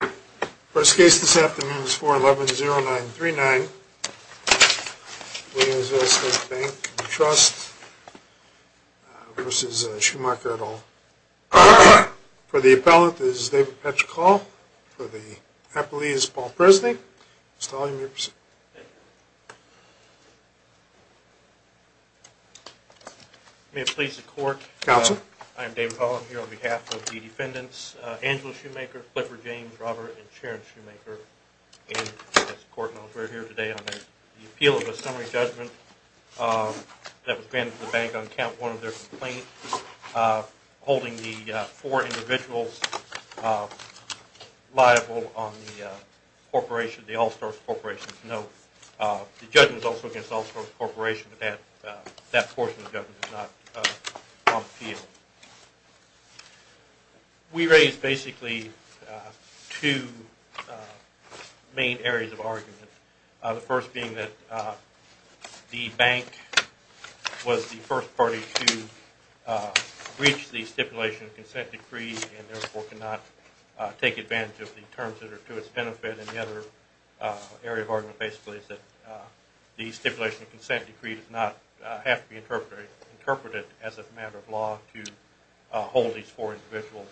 The first case this afternoon is 411-0939, New Jersey State Bank & Trust v. Shumaker et al. For the appellant is David Petchkoll, for the appellee is Paul Presley. Mr. Tolle, you may proceed. May it please the court, I am David Petchkoll. I am here on behalf of the defendants, Angela Shumaker, Clifford James, Robert, and Sharon Shumaker. And as the court knows, we are here today on the appeal of a summary judgment that was granted to the bank on count one of their complaints, holding the four individuals liable on the corporation, the All-Stars Corporation's note. The judgment is also against the All-Stars Corporation, but that portion of the judgment is not on the appeal. We raised basically two main areas of argument. The first being that the bank was the first party to breach the stipulation of consent decree and therefore cannot take advantage of the terms that are to its benefit. And the other area of argument basically is that the stipulation of consent decree does not have to be interpreted as a matter of law to hold these four individuals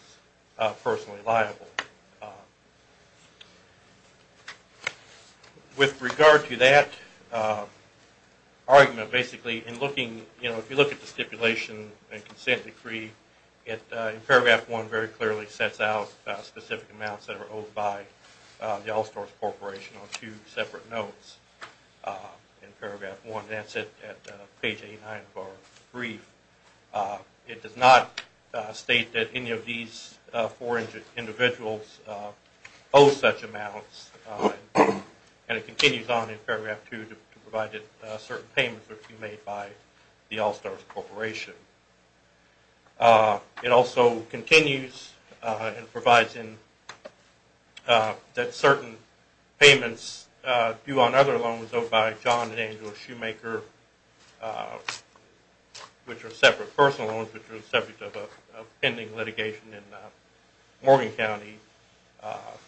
personally liable. With regard to that argument, basically, if you look at the stipulation and consent decree, in paragraph one it very clearly sets out specific amounts that are owed by the All-Stars Corporation on two separate notes. In paragraph one, that's at page 89 of our brief. It does not state that any of these four individuals owe such amounts, and it continues on in paragraph two to provide that certain payments are to be made by the All-Stars Corporation. It also continues and provides that certain payments due on other loans owed by John and Angela Shoemaker, which are separate personal loans, which are separate of a pending litigation in Morgan County,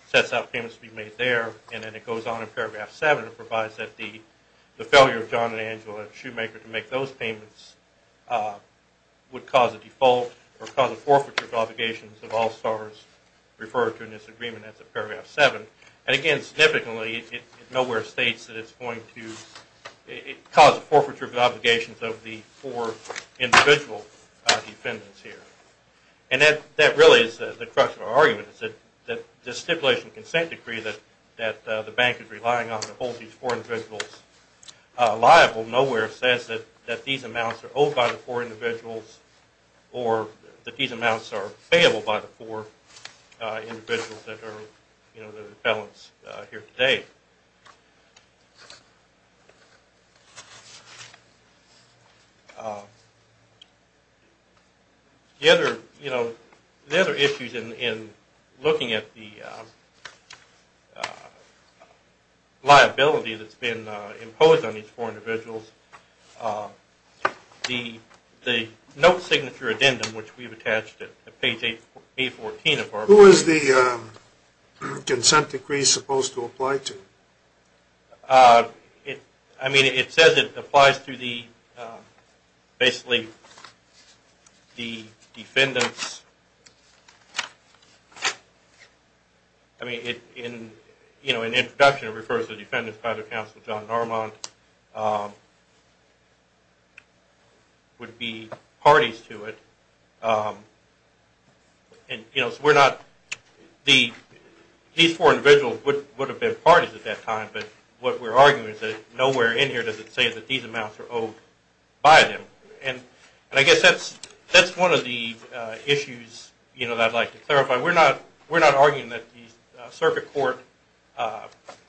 sets out payments to be made there. And then it goes on in paragraph seven and provides that the failure of John and Angela Shoemaker to make those payments would cause a default or cause a forfeiture of obligations of All-Stars referred to in this agreement as of paragraph seven. And again, significantly, it nowhere states that it's going to cause a forfeiture of obligations of the four individual defendants here. And that really is the crux of our argument is that the stipulation and consent decree that the bank is relying on to hold these four individuals liable nowhere says that these amounts are owed by the four individuals or that these amounts are payable by the four individuals that are the defendants here today. The other issues in looking at the liability that's been imposed on these four individuals, the note signature addendum, which we've attached to page 814 of our... Who is the consent decree supposed to apply to? I mean, it says it applies to the basically the defendants. I mean, in introduction, it refers to defendants by the counsel John Normand would be parties to it. These four individuals would have been parties at that time, but what we're arguing is that nowhere in here does it say that these amounts are owed by them. And I guess that's one of the issues that I'd like to clarify. We're not arguing that the circuit court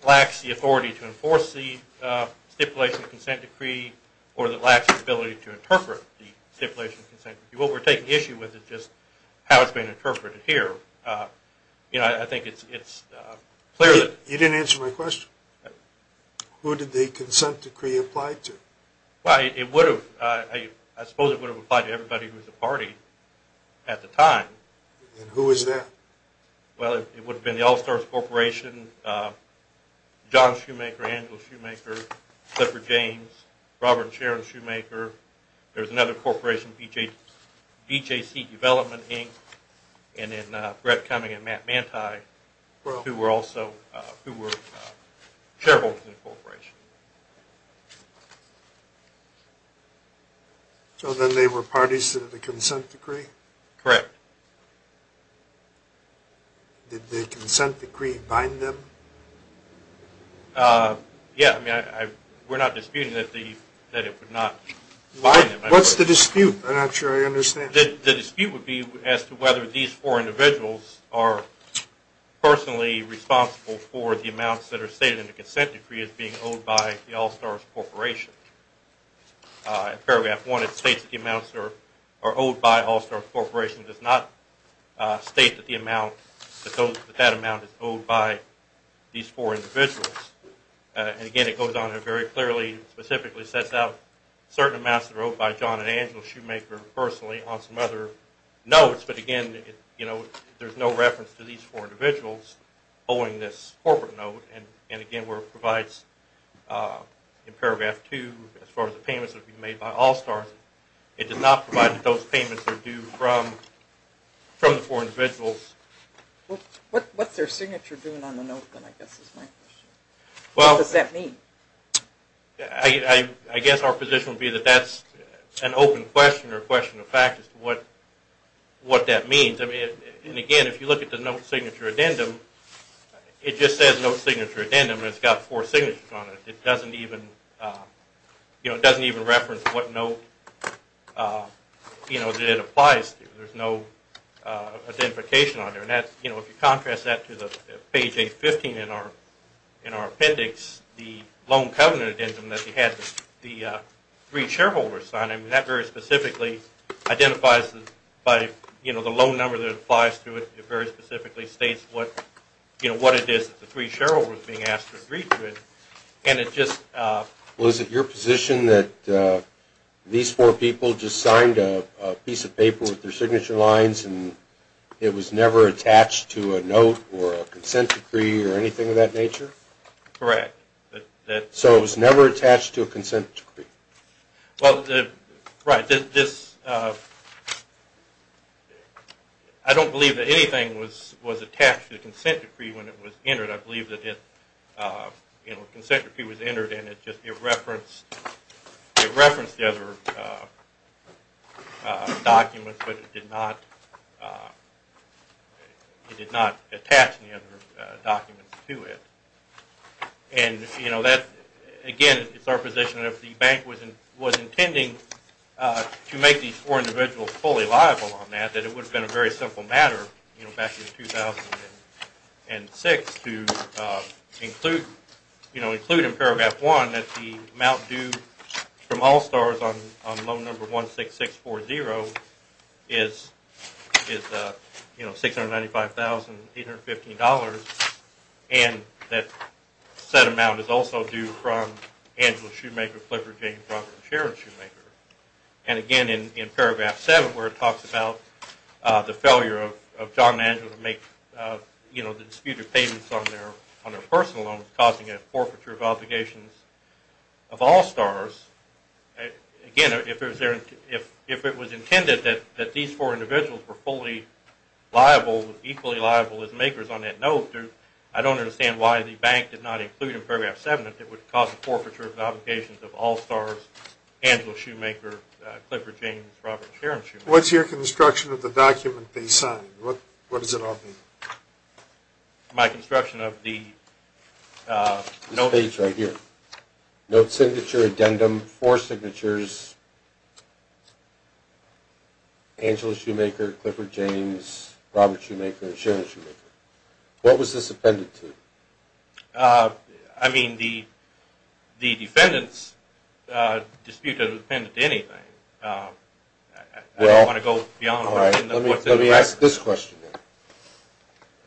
lacks the authority to enforce the stipulation consent decree or that lacks the ability to interpret the stipulation consent decree. What we're taking issue with is just how it's being interpreted here. You know, I think it's clear that... You didn't answer my question. Who did the consent decree apply to? Well, it would have. I suppose it would have applied to everybody who was a party at the time. And who is that? Well, it would have been the All-Stars Corporation, John Shoemaker, Angela Shoemaker, Clifford James, Robert and Sharon Shoemaker. There's another corporation, BJC Development, Inc., and then Brett Cumming and Matt Manti, who were shareholders in the corporation. So then they were parties to the consent decree? Correct. Did the consent decree bind them? Yeah. I mean, we're not disputing that it would not bind them. What's the dispute? I'm not sure I understand. The dispute would be as to whether these four individuals are personally responsible for the amounts that are stated in the consent decree as being owed by the All-Stars Corporation. Paragraph 1, it states that the amounts are owed by All-Stars Corporation. It does not state that that amount is owed by these four individuals. And again, it goes on to very clearly, specifically sets out certain amounts that are owed by John and Angela Shoemaker personally on some other notes. But again, you know, there's no reference to these four individuals owing this corporate note. And again, where it provides in paragraph 2, as far as the payments that are being made by All-Stars, it does not provide that those payments are due from the four individuals. What's their signature doing on the note then, I guess is my question. What does that mean? I guess our position would be that that's an open question or a question of fact as to what that means. And again, if you look at the note signature addendum, it just says note signature addendum and it's got four signatures on it. It doesn't even reference what note that it applies to. There's no identification on there. If you contrast that to the page 815 in our appendix, the loan covenant addendum that you had the three shareholders sign, that very specifically identifies the loan number that applies to it. It very specifically states what it is that the three shareholders are being asked to agree to it. Well, is it your position that these four people just signed a piece of paper with their signature lines and it was never attached to a note or a consent decree or anything of that nature? Correct. So it was never attached to a consent decree? Well, right. I don't believe that anything was attached to the consent decree when it was entered. I believe that if a consent decree was entered and it referenced the other documents, but it did not attach any other documents to it. And again, it's our position that if the bank was intending to make these four individuals fully liable on that, that it would have been a very simple matter back in 2006 to include in Paragraph 1 that the amount due from All-Stars on loan number 16640 is $695,815 and that set amount is also due from Angela Shoemaker, Clifford Jane Brunk, and Sharon Shoemaker. And again, in Paragraph 7 where it talks about the failure of John and Angela to make the disputed payments on their personal loans causing a forfeiture of obligations of All-Stars, again, if it was intended that these four individuals were fully liable, equally liable as makers on that note, I don't understand why the bank did not include in Paragraph 7 that it would cause a forfeiture of obligations of All-Stars, Angela Shoemaker, Clifford Jane, and Sharon Shoemaker. What's your construction of the document they signed? What does it all mean? My construction of the note signature addendum, four signatures, Angela Shoemaker, Clifford Jane, Robert Shoemaker, and Sharon Shoemaker. What was this appended to? I mean, the defendants dispute that it was appended to anything. I don't want to go beyond what's in the record. Let me ask this question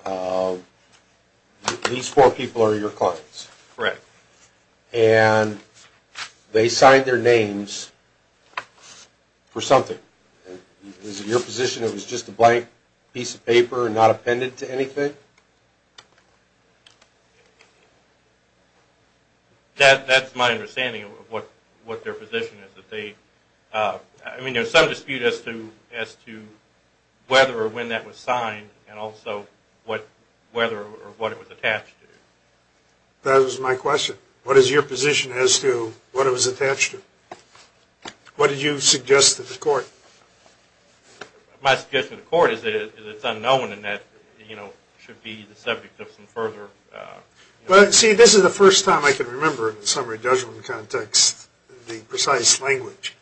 then. These four people are your clients. Correct. And they signed their names for something. Is it your position it was just a blank piece of paper not appended to anything? That's my understanding of what their position is. I mean, there's some dispute as to whether or when that was signed and also whether or what it was attached to. That was my question. What is your position as to what it was attached to? What did you suggest to the court? My suggestion to the court is that it's unknown and that it should be the subject of some further... Well, see, this is the first time I can remember, in the summary judgment context, the precise language.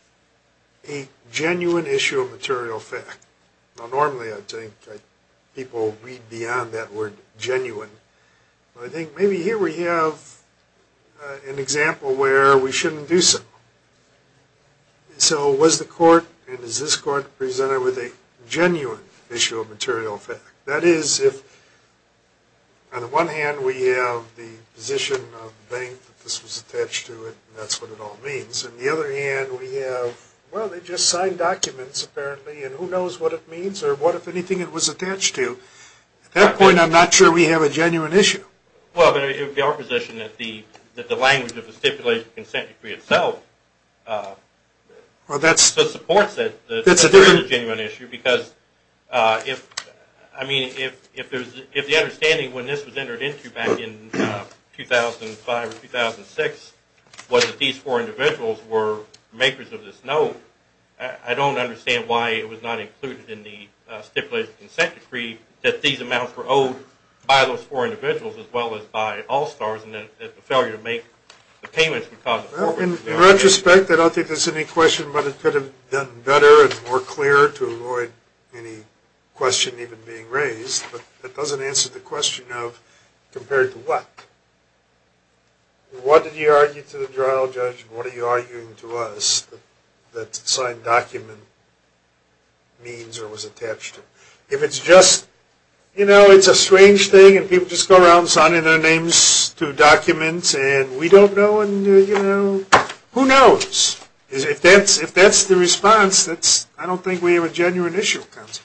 A genuine issue of material fact. Normally, I think, people read beyond that word genuine. I think maybe here we have an example where we shouldn't do so. So was the court, and is this court, presented with a genuine issue of material fact? That is, if on the one hand we have the position of the bank that this was attached to and that's what it all means, and on the other hand we have, well, they just signed documents apparently and who knows what it means or what, if anything, it was attached to. At that point, I'm not sure we have a genuine issue. Well, but it would be our position that the language of the stipulation consent decree itself... Well, that's... ...supports it. That's a different... That's a genuine issue because, I mean, if the understanding when this was entered into back in 2005 or 2006 was that these four individuals were makers of this note, I don't understand why it was not included in the stipulation consent decree that these amounts were owed by those four individuals as well as by All-Stars and that the failure to make the payments would cause... Well, in retrospect, I don't think there's any question about it could have done better and more clear to avoid any question even being raised, but that doesn't answer the question of compared to what. What did you argue to the general judge? What are you arguing to us that the signed document means or was attached to? If it's just, you know, it's a strange thing and people just go around signing their names to documents and we don't know and, you know, who knows? If that's the response, I don't think we have a genuine issue with consent.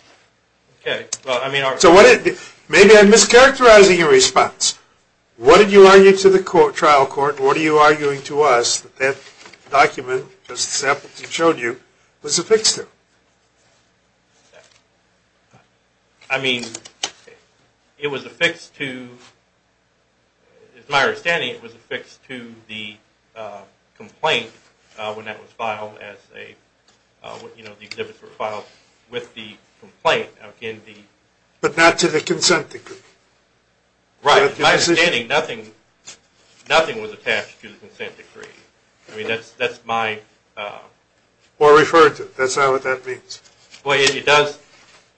Okay. Maybe I'm mischaracterizing your response. What did you argue to the trial court? What are you arguing to us that that document, as Sam showed you, was affixed to? I mean, it was affixed to... As my understanding, it was affixed to the complaint when that was filed as a, you know, when the exhibits were filed with the complaint in the... But not to the consent decree. Right. My understanding, nothing was attached to the consent decree. I mean, that's my... Or referred to. That's not what that means. Well, it does.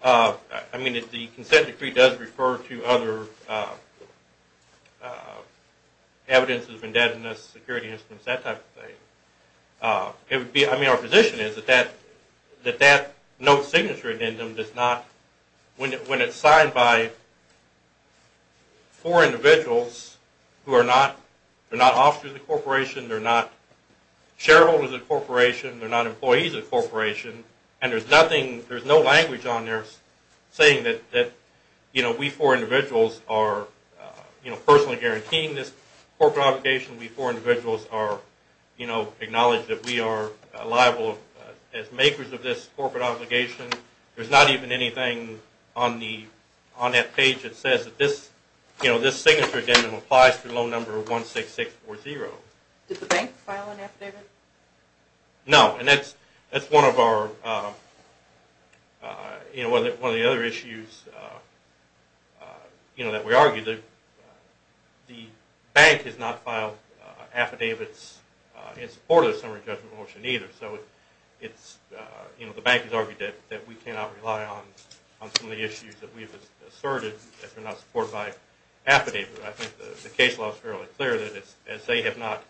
I mean, the consent decree does refer to other evidences of indebtedness, security instruments, that type of thing. I mean, our position is that that note signature addendum does not... When it's signed by four individuals who are not officers of the corporation, they're not shareholders of the corporation, they're not employees of the corporation, and there's nothing, there's no language on there saying that, you know, we four individuals are personally guaranteeing this corporate obligation, we four individuals acknowledge that we are liable as makers of this corporate obligation. There's not even anything on that page that says that this signature addendum applies to loan number 16640. Did the bank file an affidavit? No. And that's one of our, you know, one of the other issues, you know, that we argue. The bank has not filed affidavits in support of the summary judgment motion either, so it's, you know, the bank has argued that we cannot rely on some of the issues that we've asserted if they're not supported by affidavits. I think the case law is fairly clear that if they have not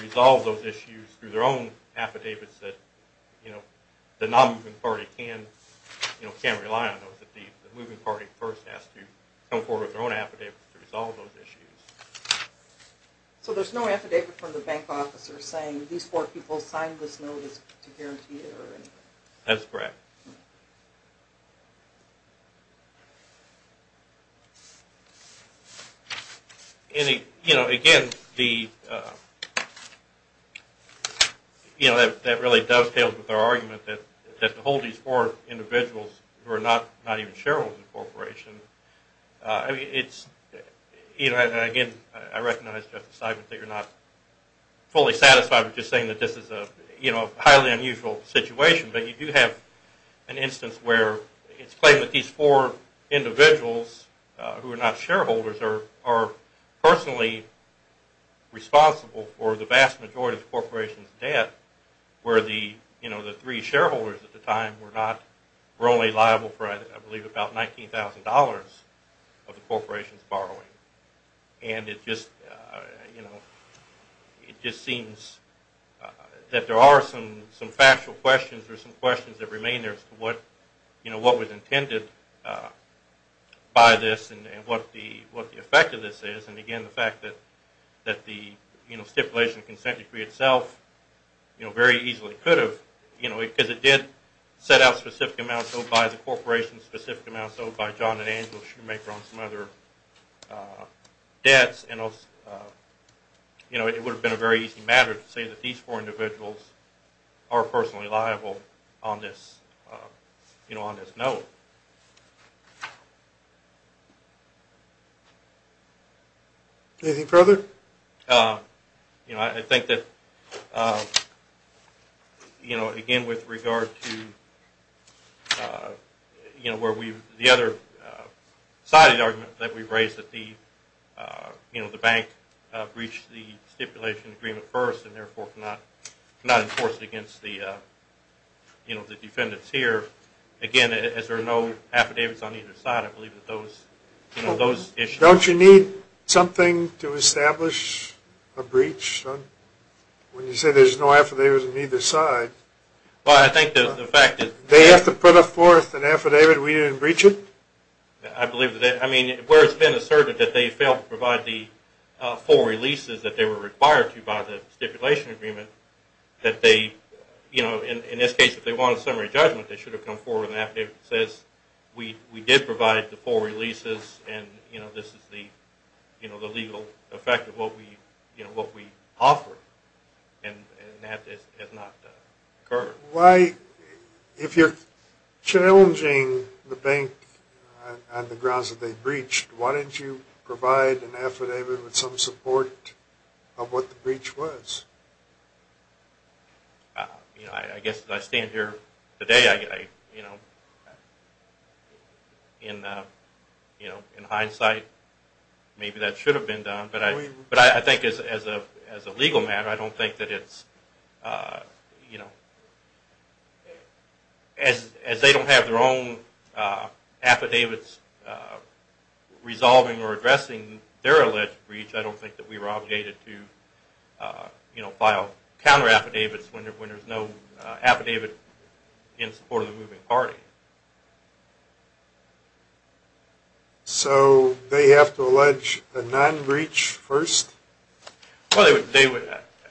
resolved those issues through their own affidavits that, you know, the non-moving party can't rely on those. The moving party first has to come forward with their own affidavits to resolve those issues. So there's no affidavit from the bank officer saying these four people signed this notice to guarantee it or anything? That's correct. And, you know, again, the, you know, that really dovetails with our argument that to hold these four individuals who are not even shareholders of the corporation, I mean, it's, you know, and again, I recognize that you're not fully satisfied with just saying that this is a, you know, a highly unusual situation, but you do have an instance where it's claimed that these four individuals who are not shareholders are personally responsible for the vast majority of the corporation's debt where the, you know, the three shareholders at the time were not, were only liable for, I believe, about $19,000 of the corporation's borrowing. And it just, you know, it just seems that there are some factual questions or some questions that remain there as to what, you know, what was intended by this and what the effect of this is and, again, the fact that the, you know, stipulation of consent decree itself, you know, very easily could have, you know, because it did set out specific amounts owed by the corporation, specific amounts owed by John and Angela Shoemaker on some other debts and, you know, it would have been a very easy matter to say that these four individuals are personally liable on this, you know, on this note. Anything further? You know, I think that, you know, again, with regard to, you know, where we, the other side of the argument that we've raised that the, you know, the bank breached the stipulation agreement first and, therefore, cannot enforce it against the, you know, the defendants here. Again, as there are no affidavits on either side, I believe that those, you know, those issues. Don't you need something to establish a breach? When you say there's no affidavits on either side. Well, I think the fact that they have to put forth an affidavit, we didn't breach it? I believe that, I mean, where it's been asserted that they failed to provide the full releases that they were required to by the stipulation agreement that they, you know, in this case, if they want a summary judgment, they should have come forward with an affidavit that says we did provide the full releases and, you know, this is the, you know, the legal effect of what we, you know, what we offered. And that has not occurred. Why, if you're challenging the bank on the grounds that they breached, why didn't you provide an affidavit with some support of what the breach was? You know, I guess as I stand here today, you know, in hindsight, maybe that should have been done. But I think as a legal matter, I don't think that it's, you know, as they don't have their own affidavits resolving or addressing their alleged breach, I don't think that we were obligated to, you know, file counter affidavits when there's no affidavit in support of the moving party. So they have to allege a non-breach first? Well, they would,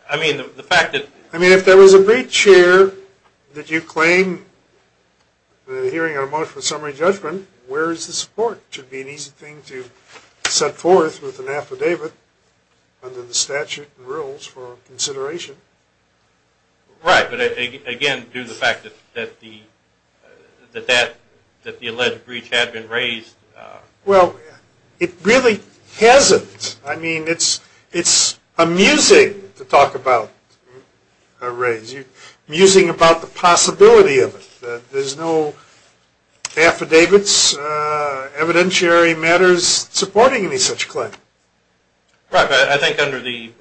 I mean, the fact that... I mean, if there was a breach here that you claim the hearing on a motion for summary judgment, where is the support? It should be an easy thing to set forth with an affidavit under the statute and rules for consideration. Right, but again, due to the fact that the alleged breach had been raised... Well, it really hasn't. I mean, it's amusing to talk about a raise. You're musing about the possibility of it. There's no affidavits, evidentiary matters supporting any such claim. Right, but I think under the,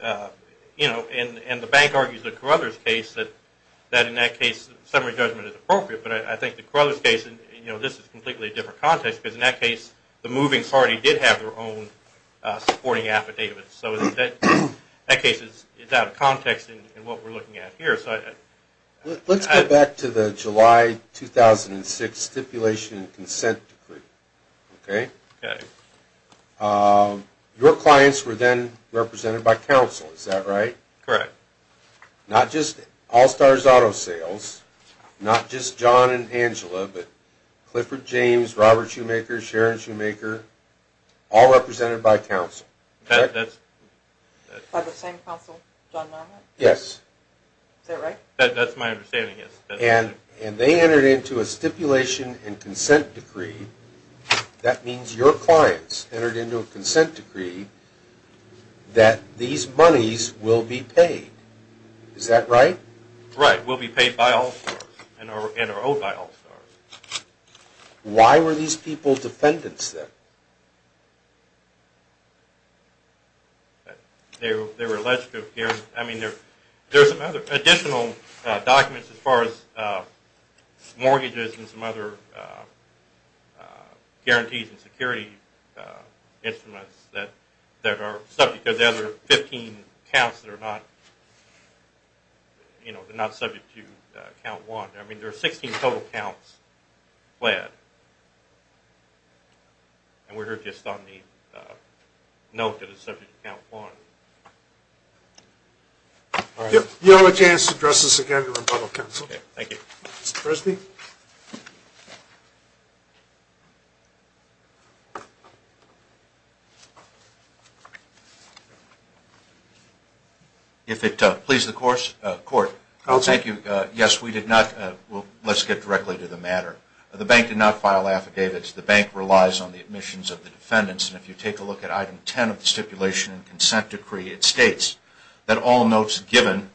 you know, and the bank argues that Carother's case, that in that case summary judgment is appropriate. But I think that Carother's case, you know, this is a completely different context, because in that case the moving party did have their own supporting affidavit. So that case is out of context in what we're looking at here. Let's go back to the July 2006 stipulation and consent decree, okay? Okay. Your clients were then represented by counsel, is that right? Correct. Not just All-Stars Auto Sales, not just John and Angela, but Clifford James, Robert Shoemaker, Sharon Shoemaker, all represented by counsel. By the same counsel, John Marmot? Yes. Is that right? That's my understanding, yes. And they entered into a stipulation and consent decree. That means your clients entered into a consent decree that these monies will be paid. Is that right? Right. Will be paid by All-Stars and are owed by All-Stars. Why were these people defendants then? They were alleged to have, I mean, there are some other additional documents as far as mortgages and some other guarantees and security instruments that are subject to the other 15 counts that are not, you know, they're not subject to count one. I mean, there are 16 total counts pled. And we're here just on the note that it's subject to count one. You'll have a chance to address this again in rebuttal, counsel. Okay, thank you. Mr. Presby? Please, the court. Counsel? Thank you. Yes, we did not. Let's get directly to the matter. The bank did not file affidavits. The bank relies on the admissions of the defendants. And if you take a look at item 10 of the stipulation and consent decree, it states that all notes given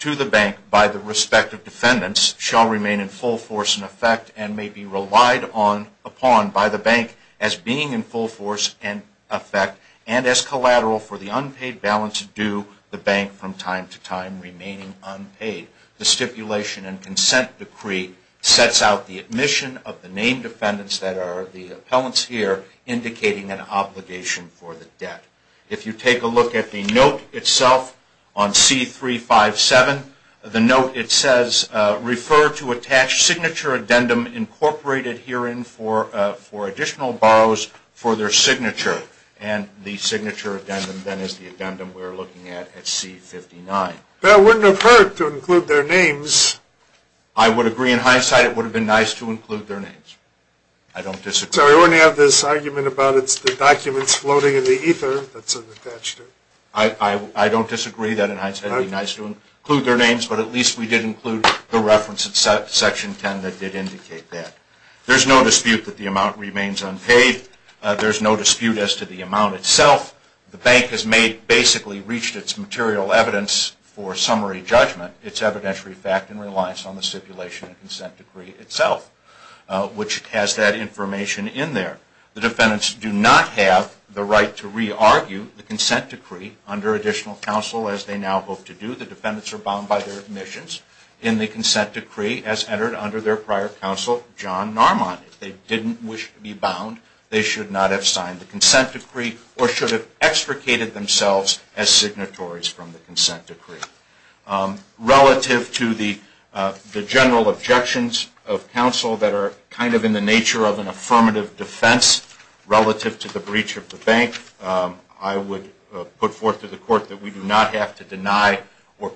to the bank by the respective defendants shall remain in full force and effect and may be relied upon by the bank as being in full force and effect and as collateral for the unpaid balance due the bank from time to time remaining unpaid. The stipulation and consent decree sets out the admission of the named defendants that are the appellants here indicating an obligation for the debt. If you take a look at the note itself on C357, the note, it says, refer to attached signature addendum incorporated herein for additional borrows for their signature. And the signature addendum then is the addendum we're looking at at C59. That wouldn't have hurt to include their names. I would agree. In hindsight, it would have been nice to include their names. I don't disagree. Sorry, we're going to have this argument about it's the documents floating in the ether that's unattached. I don't disagree. That, in hindsight, would be nice to include their names. But at least we did include the reference in section 10 that did indicate that. There's no dispute that the amount remains unpaid. There's no dispute as to the amount itself. The bank has basically reached its material evidence for summary judgment. It's evidentiary fact and relies on the stipulation and consent decree itself, which has that information in there. The defendants do not have the right to re-argue the consent decree under additional counsel, as they now hope to do. The defendants are bound by their admissions in the consent decree, as entered under their prior counsel, John Narmon. If they didn't wish to be bound, they should not have signed the consent decree or should have extricated themselves as signatories from the consent decree. Relative to the general objections of counsel that are kind of in the nature of an affirmative defense relative to the breach of the bank, I would put forth to the court that we do not have to deny or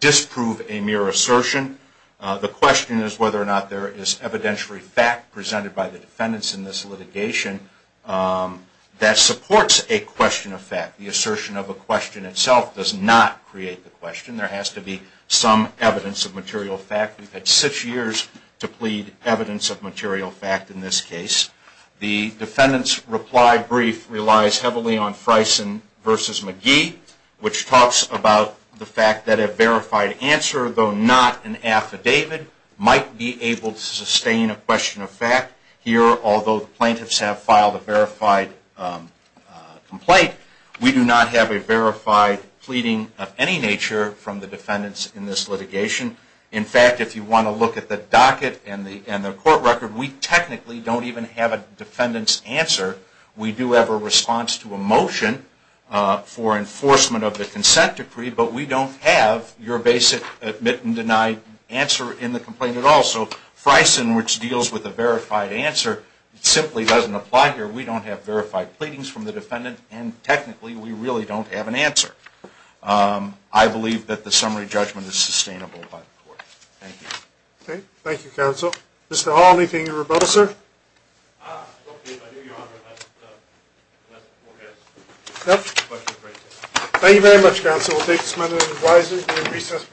disprove a mere assertion. The question is whether or not there is evidentiary fact presented by the defendants in this litigation that supports a question of fact. The assertion of a question itself does not create the question. There has to be some evidence of material fact. We've had six years to plead evidence of material fact in this case. The defendant's reply brief relies heavily on Freison v. McGee, which talks about the fact that a verified answer, though not an affidavit, might be able to sustain a question of fact. Here, although the plaintiffs have filed a verified complaint, we do not have a verified pleading of any nature from the defendants in this litigation. In fact, if you want to look at the docket and the court record, we technically don't even have a defendant's answer. We do have a response to a motion for enforcement of the consent decree, but we don't have your basic admit and deny answer in the complaint at all. So Freison, which deals with a verified answer, simply doesn't apply here. We don't have verified pleadings from the defendant, and technically we really don't have an answer. I believe that the summary judgment is sustainable by the court. Thank you. Okay. Thank you, counsel. Mr. Hall, anything to rebut, sir? I give you your honor that the question was raised. Thank you very much, counsel. We'll take this matter into advisory during recess.